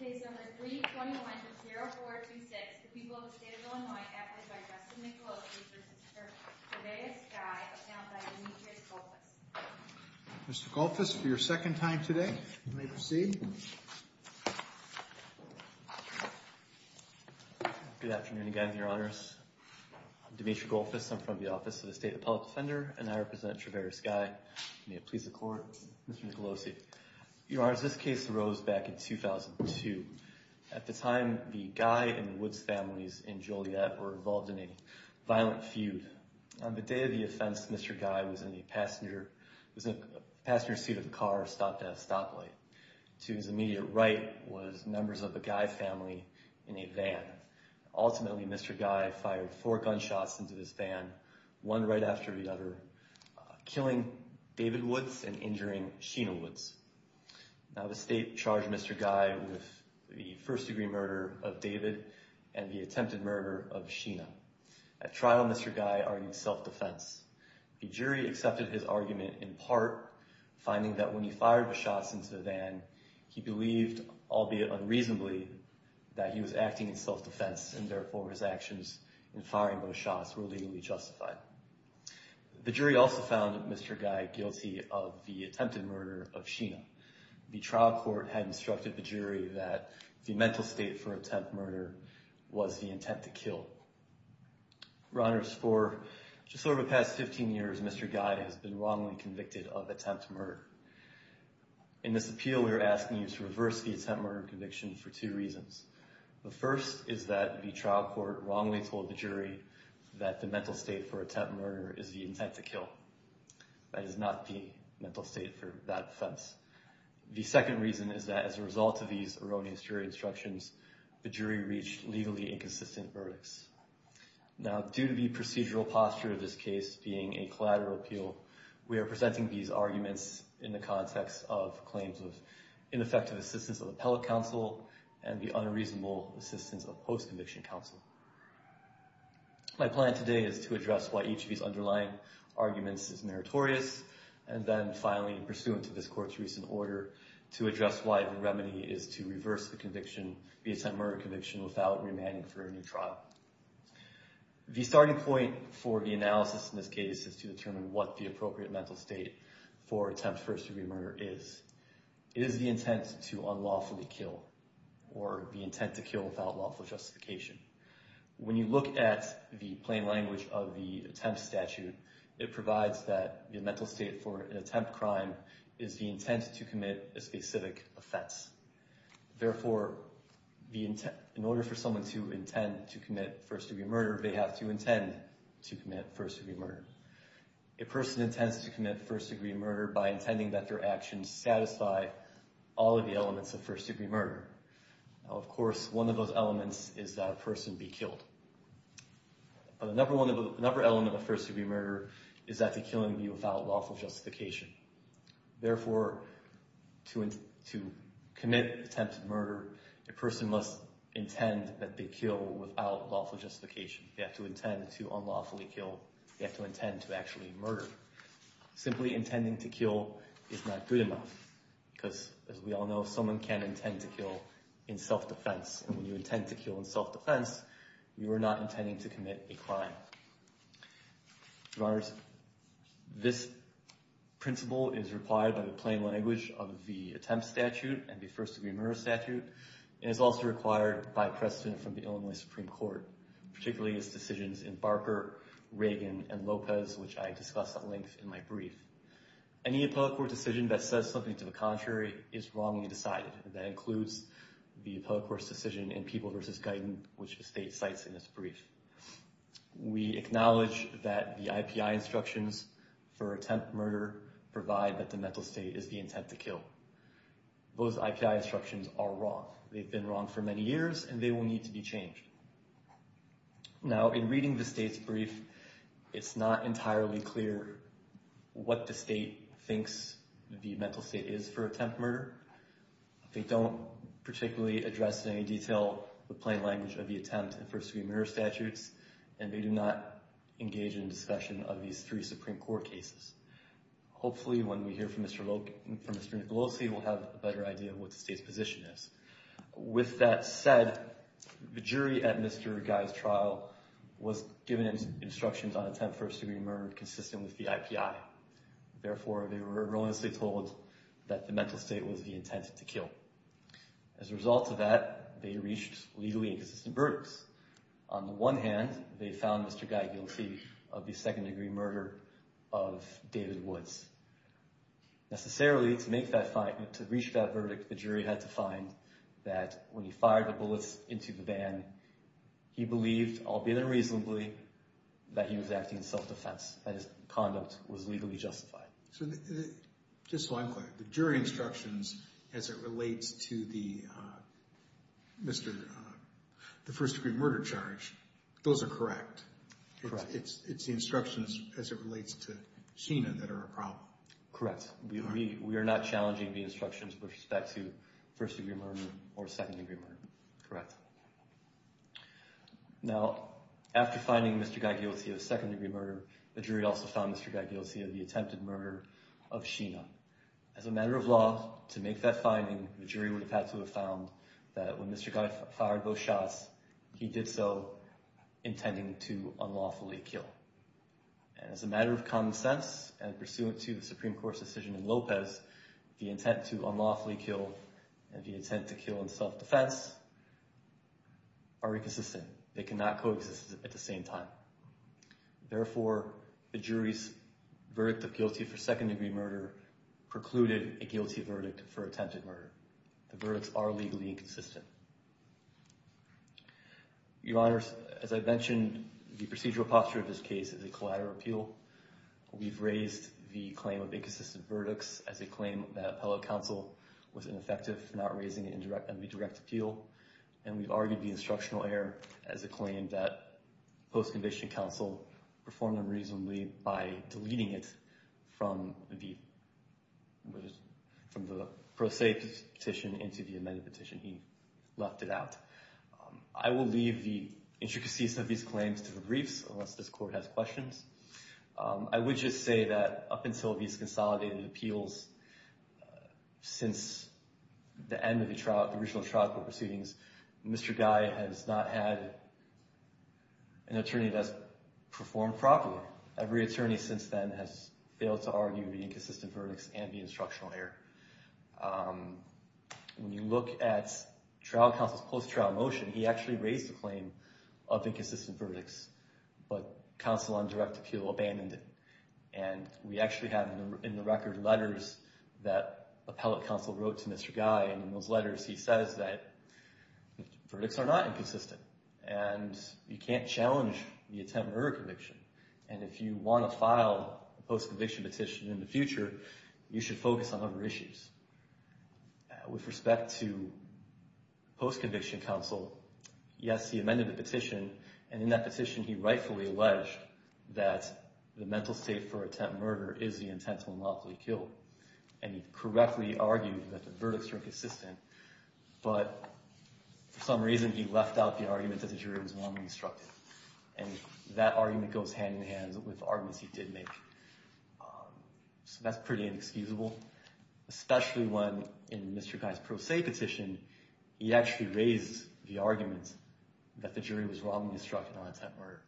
Case number 321-0426, the people of the state of Illinois, acted by Justin Nicolosi v. Trevera Skye, accounted by Demetrius Golfus. Mr. Golfus, for your second time today, you may proceed. Good afternoon again, Your Honors. I'm Demetrius Golfus. I'm from the Office of the State Appellate Defender, and I represent Trevera Skye. May it please the Court, Mr. Nicolosi. Your Honors, this case arose back in 2002. At the time, the Guy and Woods families in Joliet were involved in a violent feud. On the day of the offense, Mr. Guy was in a passenger seat of a car stopped at a stoplight. To his immediate right was members of the Guy family in a van. Ultimately, Mr. Guy fired four gunshots into this van, one right after the other, killing David Woods and injuring Sheena Woods. Now the state charged Mr. Guy with the first-degree murder of David and the attempted murder of Sheena. At trial, Mr. Guy argued self-defense. The jury accepted his argument, in part, finding that when he fired the shots into the van, he believed, albeit unreasonably, that he was acting in self-defense, and therefore his actions in firing those shots were legally justified. The jury also found Mr. Guy guilty of the attempted murder of Sheena. The trial court had instructed the jury that the mental state for attempt murder was the intent to kill. Your Honors, for just over the past 15 years, Mr. Guy has been wrongly convicted of attempt murder. In this appeal, we are asking you to reverse the attempt murder conviction for two reasons. The first is that the trial court wrongly told the jury that the mental state for attempt murder is the intent to kill. That is not the mental state for that offense. The second reason is that as a result of these erroneous jury instructions, the jury reached legally inconsistent verdicts. Now, due to the procedural posture of this case being a collateral appeal, we are presenting these arguments in the context of claims of ineffective assistance of appellate counsel and the unreasonable assistance of post-conviction counsel. My plan today is to address why each of these underlying arguments is meritorious and then finally, pursuant to this court's recent order, to address why the remedy is to reverse the conviction, the attempt murder conviction, without remanding for a new trial. The starting point for the analysis in this case is to determine what the appropriate mental state for attempt first degree murder is. Is the intent to unlawfully kill or the intent to kill without lawful justification? When you look at the plain language of the attempt statute, it provides that the mental state for an attempt crime is the intent to commit a specific offense. Therefore, in order for someone to intend to commit first degree murder, they have to intend to commit first degree murder. A person intends to commit first degree murder by intending that their actions satisfy all of the elements of first degree murder. Of course, one of those elements is that a person be killed. Another element of a first degree murder is that the killing be without lawful justification. Therefore, to commit attempted murder, a person must intend that they kill without lawful justification. They have to intend to unlawfully kill. They have to intend to actually murder. Simply intending to kill is not good enough because, as we all know, someone can intend to kill in self-defense. When you intend to kill in self-defense, you are not intending to commit a crime. Your Honors, this principle is required by the plain language of the attempt statute and the first degree murder statute. It is also required by precedent from the Illinois Supreme Court, particularly its decisions in Barker, Reagan, and Lopez, which I discussed at length in my brief. Any appellate court decision that says something to the contrary is wrongly decided. That includes the appellate court's decision in People v. Guyton, which the state cites in its brief. We acknowledge that the IPI instructions for attempt murder provide that the mental state is the intent to kill. Those IPI instructions are wrong. They've been wrong for many years, and they will need to be changed. Now, in reading the state's brief, it's not entirely clear what the state thinks the mental state is for attempt murder. They don't particularly address in any detail the plain language of the attempt and first degree murder statutes, and they do not engage in discussion of these three Supreme Court cases. Hopefully, when we hear from Mr. Nicolosi, we'll have a better idea of what the state's position is. With that said, the jury at Mr. Guy's trial was given instructions on attempt first degree murder consistent with the IPI. Therefore, they were erroneously told that the mental state was the intent to kill. As a result of that, they reached legally inconsistent verdicts. On the one hand, they found Mr. Guy guilty of the second degree murder of David Woods. Necessarily, to reach that verdict, the jury had to find that when he fired the bullets into the van, he believed, albeit unreasonably, that he was acting in self-defense, that his conduct was legally justified. So just so I'm clear, the jury instructions as it relates to the first degree murder charge, those are correct? Correct. It's the instructions as it relates to Sheena that are a problem? Correct. We are not challenging the instructions with respect to first degree murder or second degree murder. Correct. Now, after finding Mr. Guy guilty of second degree murder, the jury also found Mr. Guy guilty of the attempted murder of Sheena. As a matter of law, to make that finding, the jury would have had to have found that when Mr. Guy fired those shots, he did so intending to unlawfully kill. And as a matter of common sense and pursuant to the Supreme Court's decision in Lopez, the intent to unlawfully kill and the intent to kill in self-defense are inconsistent. They cannot coexist at the same time. Therefore, the jury's verdict of guilty for second degree murder precluded a guilty verdict for attempted murder. The verdicts are legally inconsistent. Your Honors, as I mentioned, the procedural posture of this case is a collateral appeal. We've raised the claim of inconsistent verdicts as a claim that appellate counsel was ineffective in not raising an indirect appeal. And we've argued the instructional error as a claim that post-conviction counsel performed unreasonably by deleting it from the pro se petition into the amended petition. He left it out. I will leave the intricacies of these claims to the briefs, unless this Court has questions. I would just say that up until these consolidated appeals, since the end of the original trial proceedings, Mr. Guy has not had an attorney that has performed properly. Every attorney since then has failed to argue the inconsistent verdicts and the instructional error. When you look at trial counsel's post-trial motion, he actually raised the claim of inconsistent verdicts, but counsel on direct appeal abandoned it. And we actually have in the record letters that appellate counsel wrote to Mr. Guy, and in those letters he says that the verdicts are not inconsistent, and you can't challenge the attempted murder conviction. And if you want to file a post-conviction petition in the future, you should focus on other issues. With respect to post-conviction counsel, yes, he amended the petition, and in that petition he rightfully alleged that the mental state for attempted murder is the intent to unlawfully kill. And he correctly argued that the verdicts were inconsistent, but for some reason he left out the argument that the jury was wrongly instructed. And that argument goes hand-in-hand with arguments he did make. So that's pretty inexcusable, especially when in Mr. Guy's pro se petition, he actually raised the argument that the jury was wrongly instructed on attempted murder.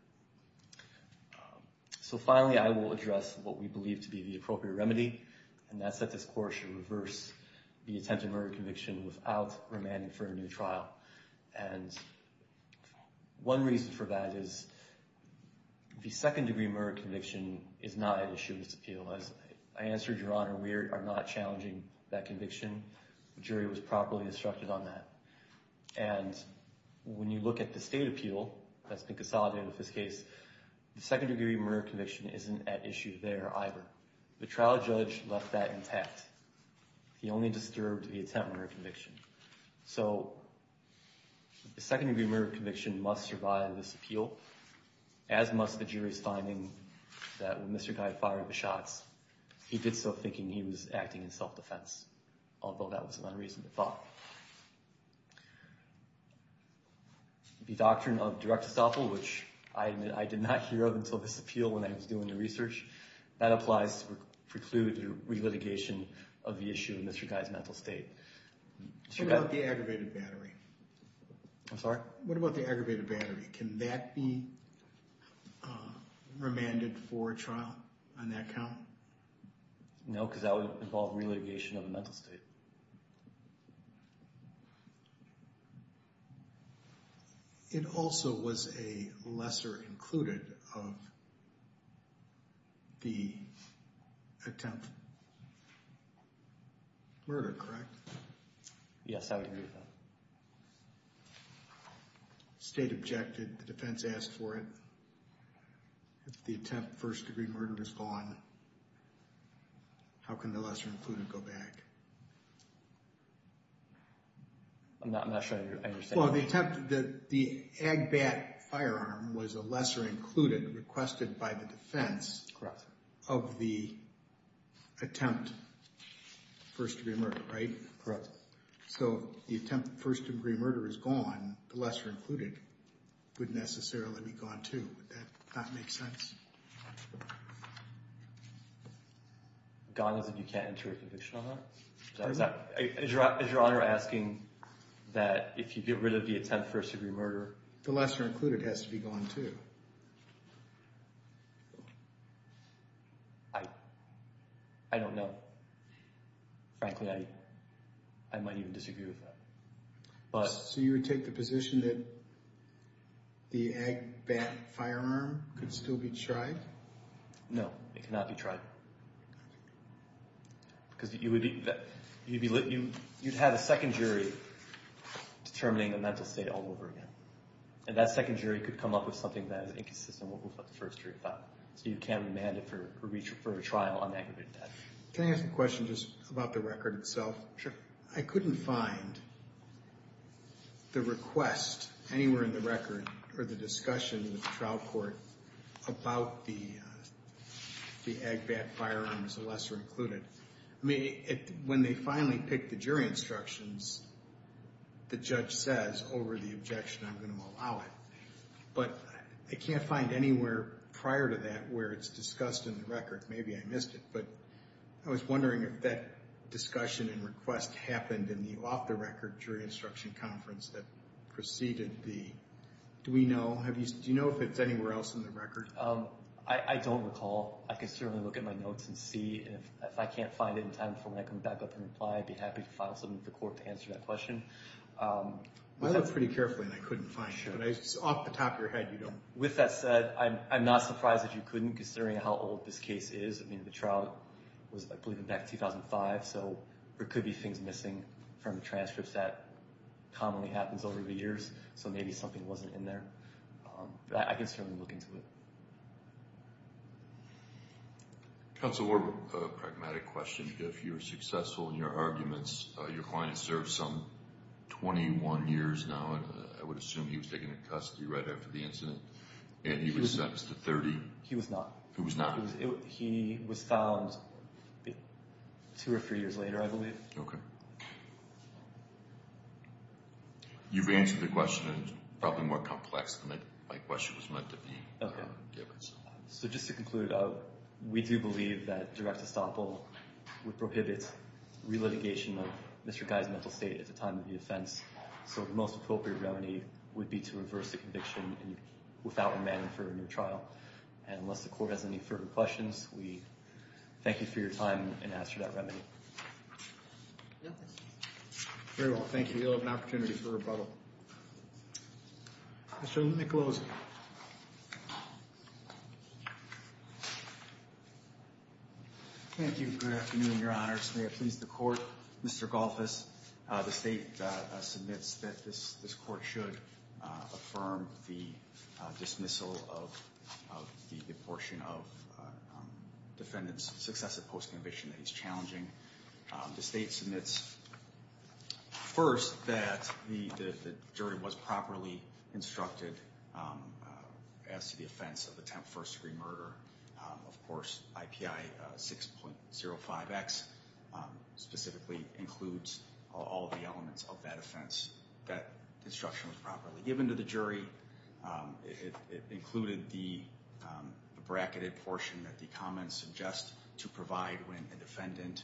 So finally I will address what we believe to be the appropriate remedy, and that's that this Court should reverse the attempted murder conviction without remanding for a new trial. And one reason for that is the second degree murder conviction is not an issue in this appeal. As I answered, Your Honor, we are not challenging that conviction. The jury was properly instructed on that. And when you look at the state appeal that's been consolidated with this case, the second degree murder conviction isn't at issue there either. The trial judge left that intact. He only disturbed the attempted murder conviction. So the second degree murder conviction must survive this appeal, as must the jury's finding that when Mr. Guy fired the shots, he did so thinking he was acting in self-defense, although that was an unreasonable thought. The doctrine of direct estoppel, which I admit I did not hear of until this appeal when I was doing the research, that applies to preclude the relitigation of the issue in Mr. Guy's mental state. What about the aggravated battery? I'm sorry? What about the aggravated battery? Can that be remanded for trial on that count? No, because that would involve relitigation of the mental state. It also was a lesser included of the attempt murder, correct? Yes, I would agree with that. The state objected. The defense asked for it. If the attempt first degree murder is gone, how can the lesser included go back? I'm not sure I understand. Well, the attempt, the Agbat firearm was a lesser included requested by the defense of the attempt first degree murder, right? Correct. So the attempt first degree murder is gone. The lesser included would necessarily be gone, too. Would that not make sense? Gone as in you can't enter a conviction on that? Is Your Honor asking that if you get rid of the attempt first degree murder? The lesser included has to be gone, too. I don't know. Frankly, I might even disagree with that. So you would take the position that the Agbat firearm could still be tried? No, it cannot be tried. Because you'd have a second jury determining a mental state all over again. And that second jury could come up with something that is inconsistent with what the first jury thought. So you can't demand it for a trial on aggravated death. Can I ask a question just about the record itself? Sure. I couldn't find the request anywhere in the record or the discussion with the trial court about the Agbat firearm as a lesser included. When they finally pick the jury instructions, the judge says, over the objection, I'm going to allow it. But I can't find anywhere prior to that where it's discussed in the record. Maybe I missed it. But I was wondering if that discussion and request happened in the off-the-record jury instruction conference that preceded the – do we know? Do you know if it's anywhere else in the record? I don't recall. I can certainly look at my notes and see. And if I can't find it in time for when I come back up and reply, I'd be happy to file something with the court to answer that question. I looked pretty carefully, and I couldn't find it. But off the top of your head, you don't – With that said, I'm not surprised that you couldn't, considering how old this case is. I mean, the trial was, I believe, back in 2005. So there could be things missing from the transcripts that commonly happens over the years. So maybe something wasn't in there. But I can certainly look into it. Counsel, more of a pragmatic question. If you're successful in your arguments, your client has served some 21 years now. I would assume he was taken into custody right after the incident, and he was sentenced to 30. He was not. He was not. He was found two or three years later, I believe. Okay. You've answered the question, and it's probably more complex than my question was meant to be given. So just to conclude, we do believe that direct estoppel would prohibit relitigation of Mr. Guy's mental state at the time of the offense. So the most appropriate remedy would be to reverse the conviction without remand for a new trial. And unless the court has any further questions, we thank you for your time and ask for that remedy. Very well. Thank you. You'll have an opportunity for rebuttal. Mr. Nicolosi. Thank you. Good afternoon, Your Honor. May it please the court. Mr. Golfis, the state submits that this court should affirm the dismissal of the portion of defendant's successive post-conviction that he's challenging. The state submits first that the jury was properly instructed as to the offense of attempt first-degree murder. Of course, IPI 6.05x specifically includes all of the elements of that offense that the instruction was properly given to the jury. It included the bracketed portion that the comments suggest to provide when a defendant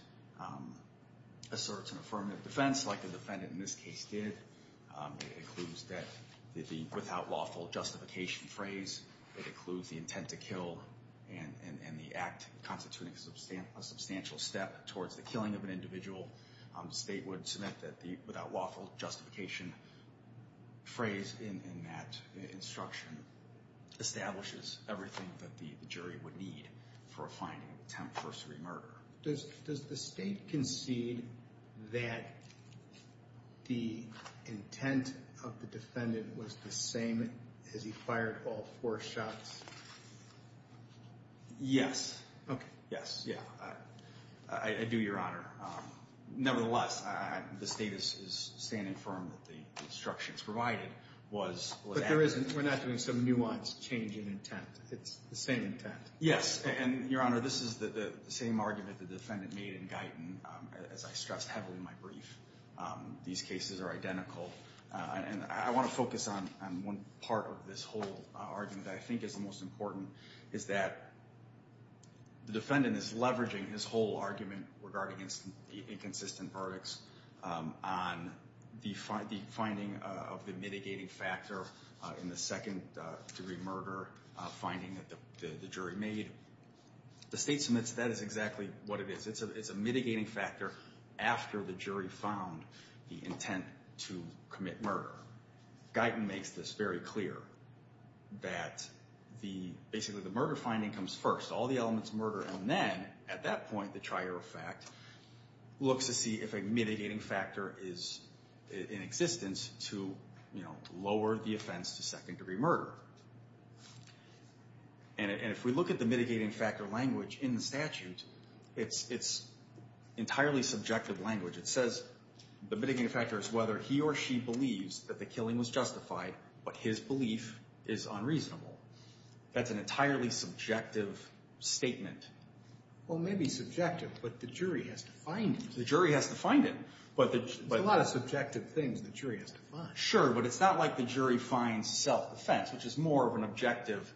asserts an affirmative defense like the defendant in this case did. It includes the without lawful justification phrase. It includes the intent to kill and the act constituting a substantial step towards the killing of an individual. The state would submit that the without lawful justification phrase in that instruction establishes everything that the jury would need for a finding of attempt first-degree murder. Does the state concede that the intent of the defendant was the same as he fired all four shots? Yes. Okay. Yes, yeah. I do, Your Honor. Nevertheless, the state is standing firm that the instructions provided was what happened. But we're not doing some nuanced change in intent. It's the same intent. Yes. And, Your Honor, this is the same argument the defendant made in Guyton, as I stressed heavily in my brief. These cases are identical. I want to focus on one part of this whole argument that I think is the most important, is that the defendant is leveraging his whole argument regarding inconsistent verdicts on the finding of the mitigating factor in the second-degree murder finding that the jury made. The state submits that is exactly what it is. It's a mitigating factor after the jury found the intent to commit murder. Guyton makes this very clear that basically the murder finding comes first. All the elements murder and then, at that point, the trier of fact looks to see if a mitigating factor is in existence to lower the offense to second-degree murder. And if we look at the mitigating factor language in the statute, it's entirely subjective language. It says the mitigating factor is whether he or she believes that the killing was justified, but his belief is unreasonable. That's an entirely subjective statement. Well, maybe subjective, but the jury has to find it. The jury has to find it. There's a lot of subjective things the jury has to find. Sure, but it's not like the jury finds self-defense, which is more of an objective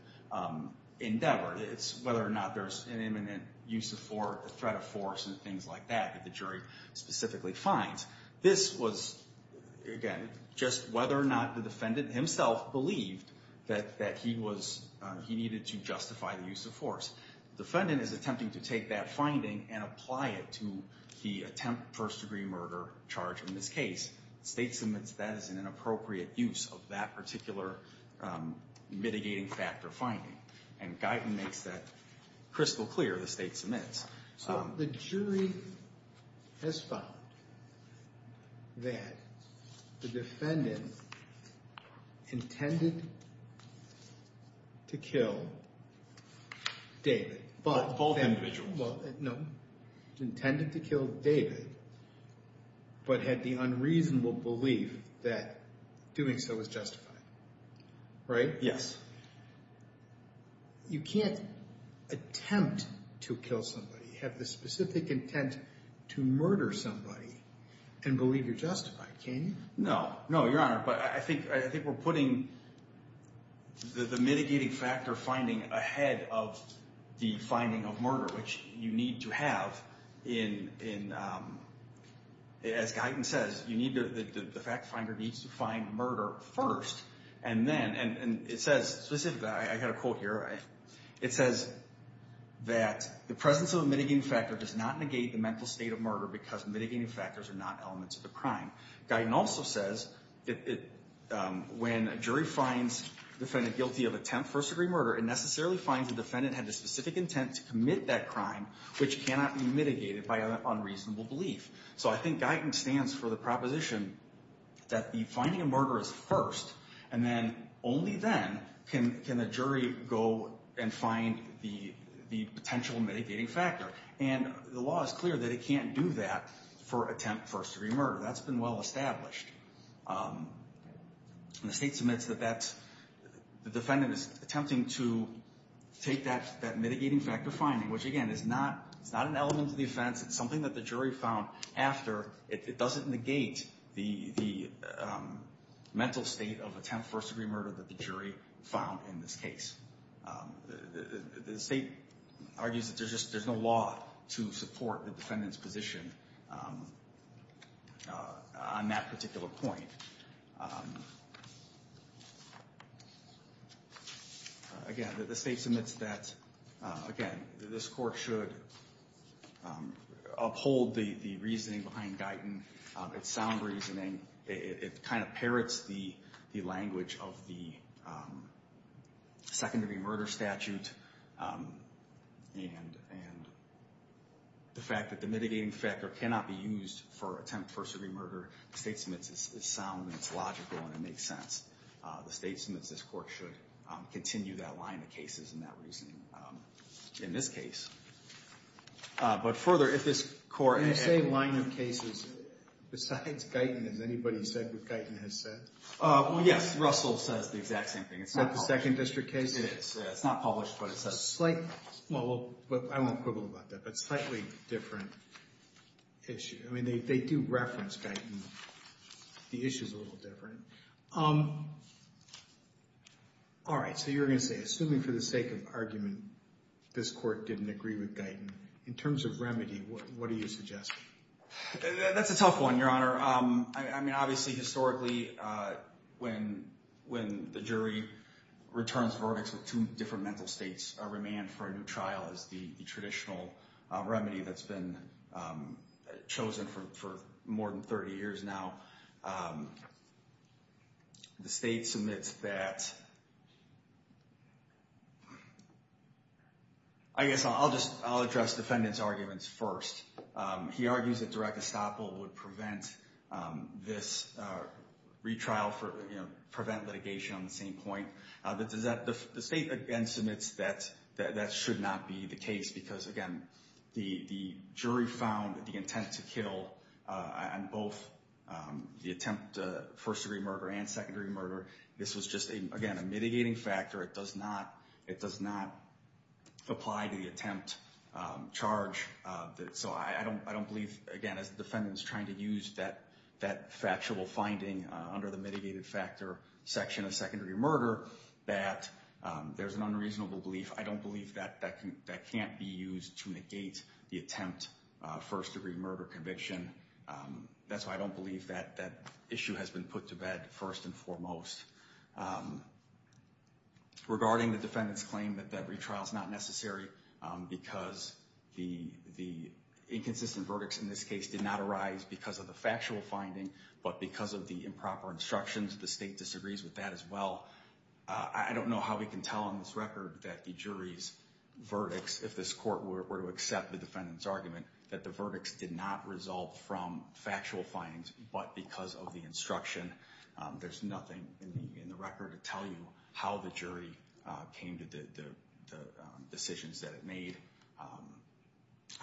endeavor. It's whether or not there's an imminent use of force, a threat of force, and things like that that the jury specifically finds. This was, again, just whether or not the defendant himself believed that he needed to justify the use of force. The defendant is attempting to take that finding and apply it to the attempt first-degree murder charge in this case. The state submits that as an inappropriate use of that particular mitigating factor finding, and Guyton makes that crystal clear. The state submits. So the jury has found that the defendant intended to kill David. Both individuals. Well, no, intended to kill David, but had the unreasonable belief that doing so was justified, right? Yes. You can't attempt to kill somebody, have the specific intent to murder somebody, and believe you're justified, can you? No. No, Your Honor, but I think we're putting the mitigating factor finding ahead of the finding of murder, which you need to have in, as Guyton says, the fact finder needs to find murder first, and then, and it says specifically, I got a quote here, it says that the presence of a mitigating factor does not negate the mental state of murder because mitigating factors are not elements of the crime. Guyton also says when a jury finds a defendant guilty of attempt first-degree murder, it necessarily finds the defendant had the specific intent to commit that crime, which cannot be mitigated by an unreasonable belief. So I think Guyton stands for the proposition that the finding of murder is first, and then only then can the jury go and find the potential mitigating factor. And the law is clear that it can't do that for attempt first-degree murder. That's been well established. The state submits that the defendant is attempting to take that mitigating factor finding, which, again, is not an element of the offense. It's something that the jury found after. It doesn't negate the mental state of attempt first-degree murder that the jury found in this case. The State argues that there's just no law to support the defendant's position on that particular point. Again, the State submits that, again, this Court should uphold the reasoning behind Guyton, its sound reasoning. It kind of parrots the language of the second-degree murder statute and the fact that the mitigating factor cannot be used for attempt first-degree murder. The State submits it's sound and it's logical and it makes sense. The State submits this Court should continue that line of cases and that reasoning in this case. But further, if this Court— When you say line of cases, besides Guyton, has anybody said what Guyton has said? Yes. Russell says the exact same thing. Is that the second district case? It is. It's not published, but it says— Well, I won't quibble about that, but slightly different issue. I mean, they do reference Guyton. The issue is a little different. All right, so you were going to say, assuming for the sake of argument, this Court didn't agree with Guyton, in terms of remedy, what do you suggest? That's a tough one, Your Honor. I mean, obviously, historically, when the jury returns verdicts with two different mental states, a remand for a new trial is the traditional remedy that's been chosen for more than 30 years now. The State submits that— I guess I'll address the defendant's arguments first. He argues that direct estoppel would prevent this retrial for—prevent litigation on the same point. The State, again, submits that that should not be the case because, again, the jury found that the intent to kill on both the attempt to first-degree murder and secondary murder, this was just, again, a mitigating factor. It does not—it does not apply to the attempt charge. So I don't believe, again, as the defendant's trying to use that factual finding under the mitigated factor section of secondary murder, that there's an unreasonable belief. I don't believe that that can't be used to negate the attempt first-degree murder conviction. That's why I don't believe that that issue has been put to bed first and foremost. Regarding the defendant's claim that that retrial is not necessary because the inconsistent verdicts in this case did not arise because of the factual finding, but because of the improper instructions, the State disagrees with that as well. I don't know how we can tell on this record that the jury's verdicts, if this court were to accept the defendant's argument, that the verdicts did not result from factual findings, but because of the instruction. There's nothing in the record to tell you how the jury came to the decisions that it made.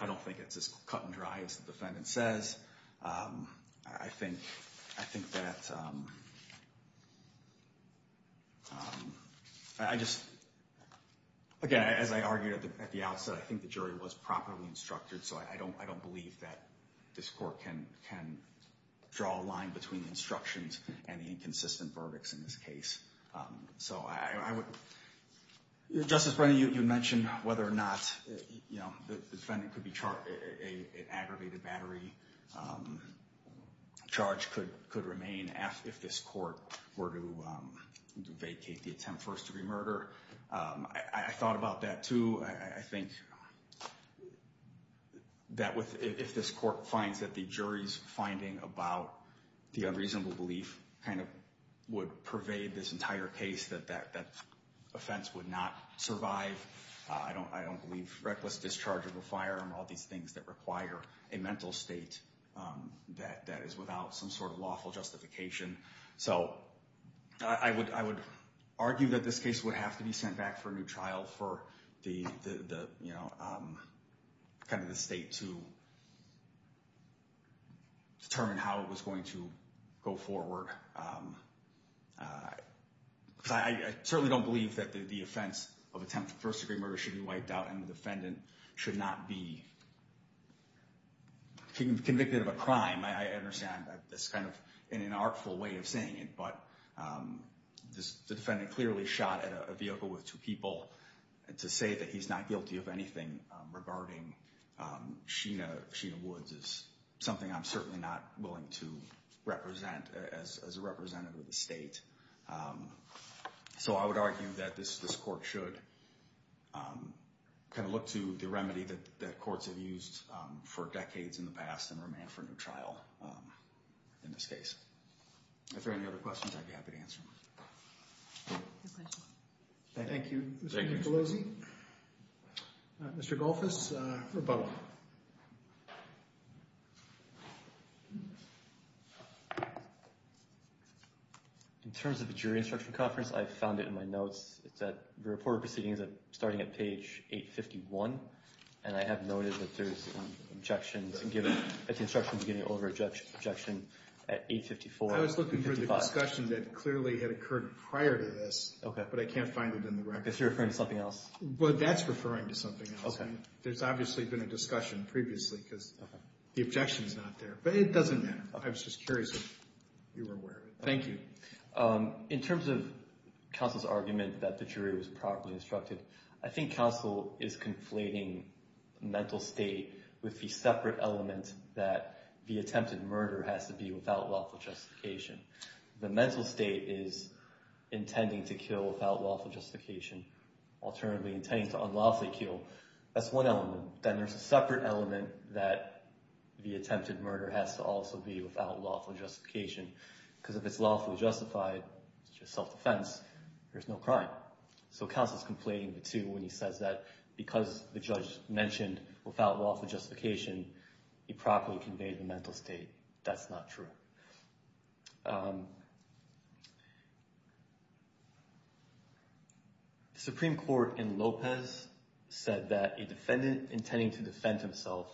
I don't think it's as cut and dry as the defendant says. I think that I just, again, as I argued at the outset, I think the jury was properly instructed. So I don't believe that this court can draw a line between instructions and the inconsistent verdicts in this case. Justice Brennan, you mentioned whether or not the defendant could be charged, an aggravated battery charge could remain if this court were to vacate the attempt first-degree murder. I thought about that, too. I think that if this court finds that the jury's finding about the unreasonable belief kind of would pervade this entire case, that that offense would not survive. I don't believe reckless discharge of a firearm, all these things that require a mental state that is without some sort of lawful justification. So I would argue that this case would have to be sent back for a new trial for the state to determine how it was going to go forward. I certainly don't believe that the offense of attempt first-degree murder should be wiped out and the defendant should not be convicted of a crime. I understand that's kind of an inartful way of saying it, but the defendant clearly shot at a vehicle with two people. To say that he's not guilty of anything regarding Sheena Woods is something I'm certainly not willing to represent as a representative of the state. So I would argue that this court should kind of look to the remedy that courts have used for decades in the past and remand for a new trial in this case. If there are any other questions, I'd be happy to answer them. Thank you. Thank you, Mr. Nicolosi. Mr. Golfus, rebuttal. In terms of the jury instruction conference, I found it in my notes. It's at the report of proceedings starting at page 851, and I have noted that there's objections given at the instruction beginning over objection at 854 and 855. I was looking for the discussion that clearly had occurred prior to this, but I can't find it in the record. If you're referring to something else. Well, that's referring to something else. There's obviously been a discussion previously because the objection is not there, but it doesn't matter. I was just curious if you were aware of it. Thank you. In terms of counsel's argument that the jury was properly instructed, I think counsel is conflating mental state with the separate element that the attempted murder has to be without lawful justification. The mental state is intending to kill without lawful justification, alternatively intending to unlawfully kill. That's one element. Then there's a separate element that the attempted murder has to also be without lawful justification because if it's lawfully justified, it's just self-defense. There's no crime. So counsel's complaining, too, when he says that because the judge mentioned without lawful justification, he properly conveyed the mental state. That's not true. The Supreme Court in Lopez said that a defendant intending to defend himself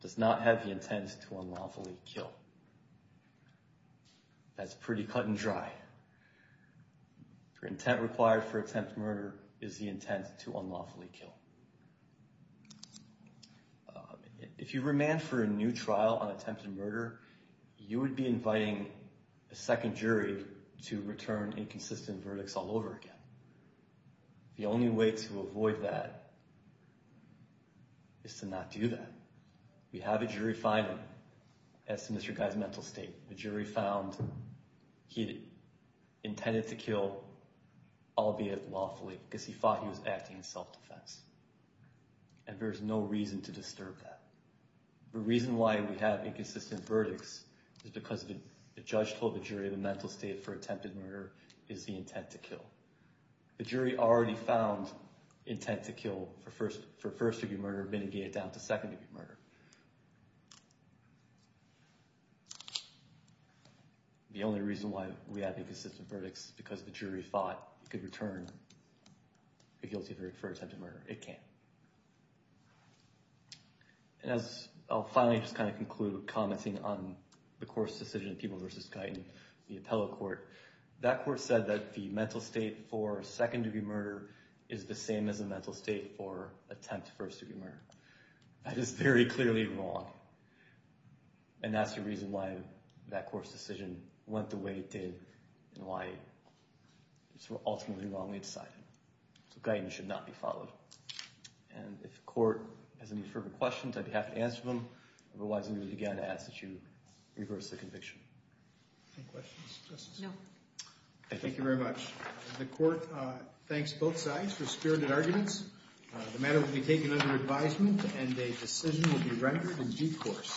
does not have the intent to unlawfully kill. That's pretty cut and dry. The intent required for attempted murder is the intent to unlawfully kill. If you remand for a new trial on attempted murder, you would be inviting a second jury to return inconsistent verdicts all over again. The only way to avoid that is to not do that. We have a jury finding as to Mr. Guy's mental state. The jury found he intended to kill, albeit lawfully, because he thought he was acting in self-defense. And there's no reason to disturb that. The reason why we have inconsistent verdicts is because the judge told the jury the mental state for attempted murder is the intent to kill. The jury already found intent to kill for first-degree murder mitigated down to second-degree murder. The only reason why we have inconsistent verdicts is because the jury thought it could return a guilty verdict for attempted murder. It can't. And I'll finally just kind of conclude commenting on the court's decision, People v. Guyton, the appellate court. That court said that the mental state for second-degree murder is the same as the mental state for attempted first-degree murder. That is very clearly wrong. And that's the reason why that court's decision went the way it did and why it was ultimately wrongly decided. So Guyton should not be followed. And if the court has any further questions, I'd be happy to answer them. Otherwise, I'm going to again ask that you reverse the conviction. Any questions? No. Thank you very much. The court thanks both sides for spirited arguments. The matter will be taken under advisement and a decision will be rendered in due course.